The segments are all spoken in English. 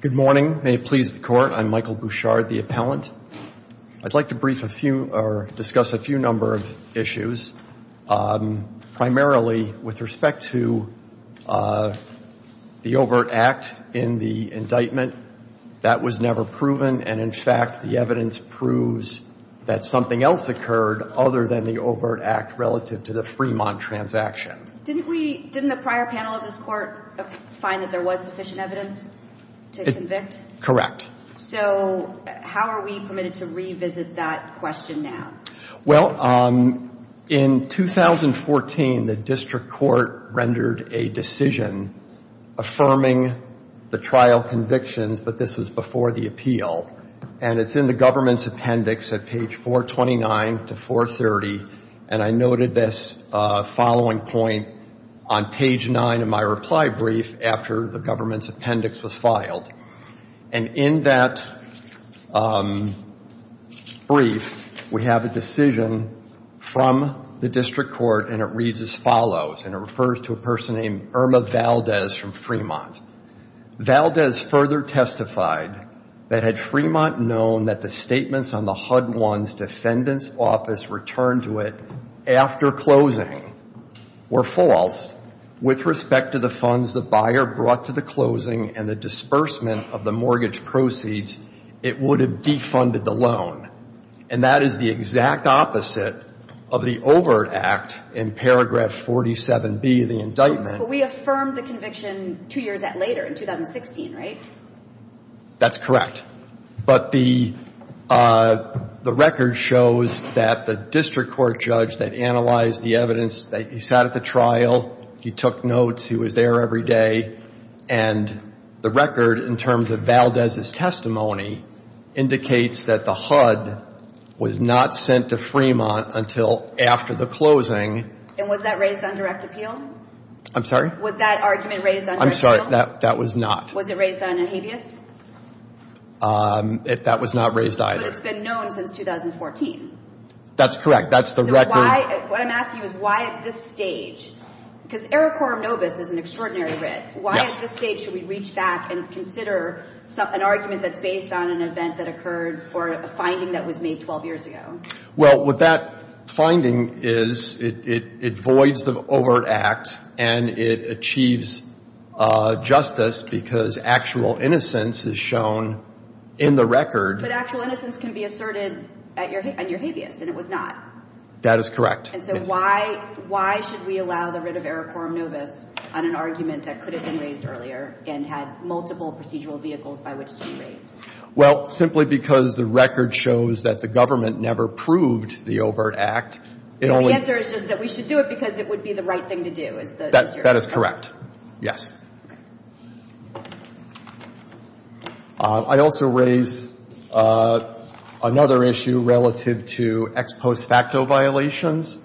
Good morning. May it please the court. I'm Michael Bouchard, the appellant. I'd like to discuss a few number of issues, primarily with respect to the overt act in the indictment. That was never proven. And in fact, the evidence proves that something else occurred other than the overt act relative to the Fremont transaction. Didn't the prior panel of this court find that there was sufficient evidence to convict? Correct. So how are we permitted to revisit that question now? Well, in 2014, the district court rendered a decision affirming the trial convictions, but this was before the appeal. And it's in the government's appendix at page 429 to 430. And I noted this following point on page 9 of my reply brief after the government's appendix was filed. And in that brief, we have a decision from the district court, and it reads as follows, and it refers to a person named Irma Valdez from Fremont. Valdez further testified that had Fremont known that the statements on the HUD-1's defendant's office returned to it after closing were false with respect to the funds the buyer brought to the closing and the disbursement of the mortgage proceeds, it would have defunded the loan. And that is the exact opposite of the overt act in paragraph 47B of the indictment. But we affirmed the conviction two years later, in 2016, right? That's correct. But the record shows that the district court judge that analyzed the evidence, he sat at the trial, he took notes, he was there every day, and the record, in terms of Valdez's testimony, indicates that the HUD was not sent to Fremont until after the closing. And was that raised on direct appeal? I'm sorry? Was that argument raised on direct appeal? I'm sorry, that was not. Was it raised on a habeas? That was not raised either. But it's been known since 2014. That's correct. That's the record. So why, what I'm asking is why at this stage, because Ericorum Nobis is an extraordinary writ, why at this stage should we reach back and consider an argument that's based on an event that occurred or a finding that was made 12 years ago? Well, what that finding is, it voids the overt act and it achieves justice because actual innocence is shown in the record. But actual innocence can be asserted on your habeas, and it was not. That is correct. And so why, why should we allow the writ of Ericorum Nobis on an argument that could have been raised earlier and had multiple procedural vehicles by which to be raised? Well, simply because the record shows that the government never proved the overt act. So the answer is just that we should do it because it would be the right thing to do, is that what you're saying? That is correct. Yes. I also raise another issue relative to ex post facto violations.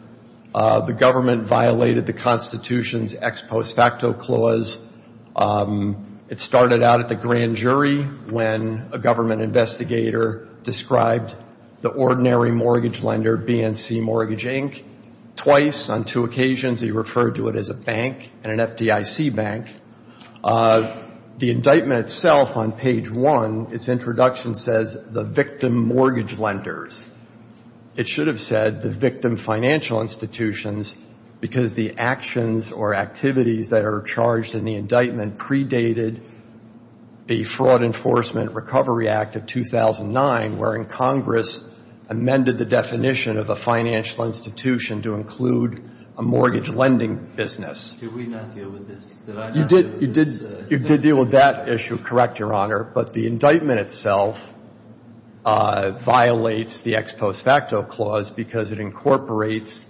The government violated the Constitution's ex post facto clause. It started out at the grand jury when a government investigator described the ordinary mortgage lender, BNC Mortgage, Inc. twice. On two occasions, he referred to it as a bank and an FDIC bank. The indictment itself, on page one, its introduction says the victim mortgage lenders. It should have said the victim financial institutions because the actions or activities that are charged in the indictment predated the Fraud Enforcement Recovery Act of 2009, wherein Congress amended the definition of a financial institution to include a mortgage lending business. Did we not deal with this? You did. You did. You did deal with that issue. Correct, Your Honor. But the indictment itself violates the ex post facto clause because it incorporates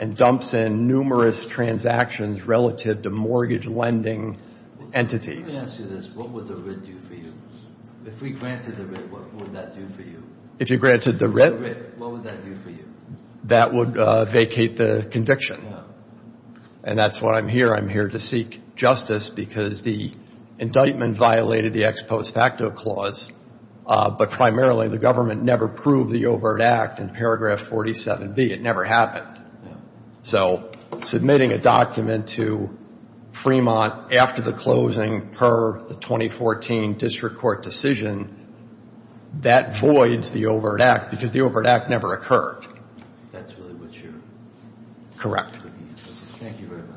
and dumps in numerous transactions relative to mortgage lending entities. Let me ask you this. What would the writ do for you? If we granted the writ, what would that do for you? If you granted the writ? What would that do for you? That would vacate the conviction. And that's why I'm here. I'm here to seek justice because the indictment violated the ex post facto clause, but primarily the government never proved the overt act in paragraph 47B. It never happened. So submitting a document to Fremont after the closing per the 2014 district court decision, that voids the overt act because the overt act never occurred. That's really what you're... Thank you very much.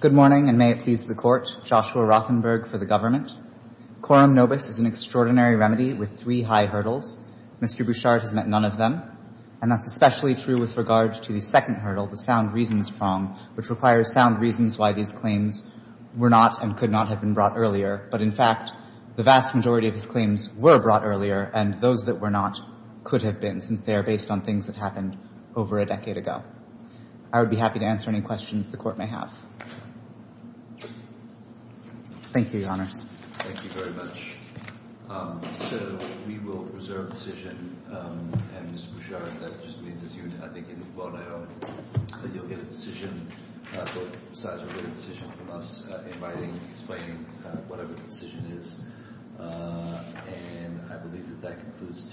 Good morning, and may it please the court. Joshua Rothenberg for the government. Quorum nobis is an extraordinary remedy with three high hurdles. Mr. Bouchard has met none of them, and that's especially true with regard to the second hurdle, the sound reasons prong, which requires sound reasons why these claims were not and could not have been brought earlier. But in fact, the vast majority of his claims were brought earlier, and those that were not could have been since they are based on things that happened over a decade ago. I would be happy to answer any questions the court may have. Thank you, your honors. Thank you very much. So we will reserve decision. And Mr. Bouchard, that just means it's you. I think you'll get a decision from us, inviting, explaining whatever the decision is. And I believe that that concludes.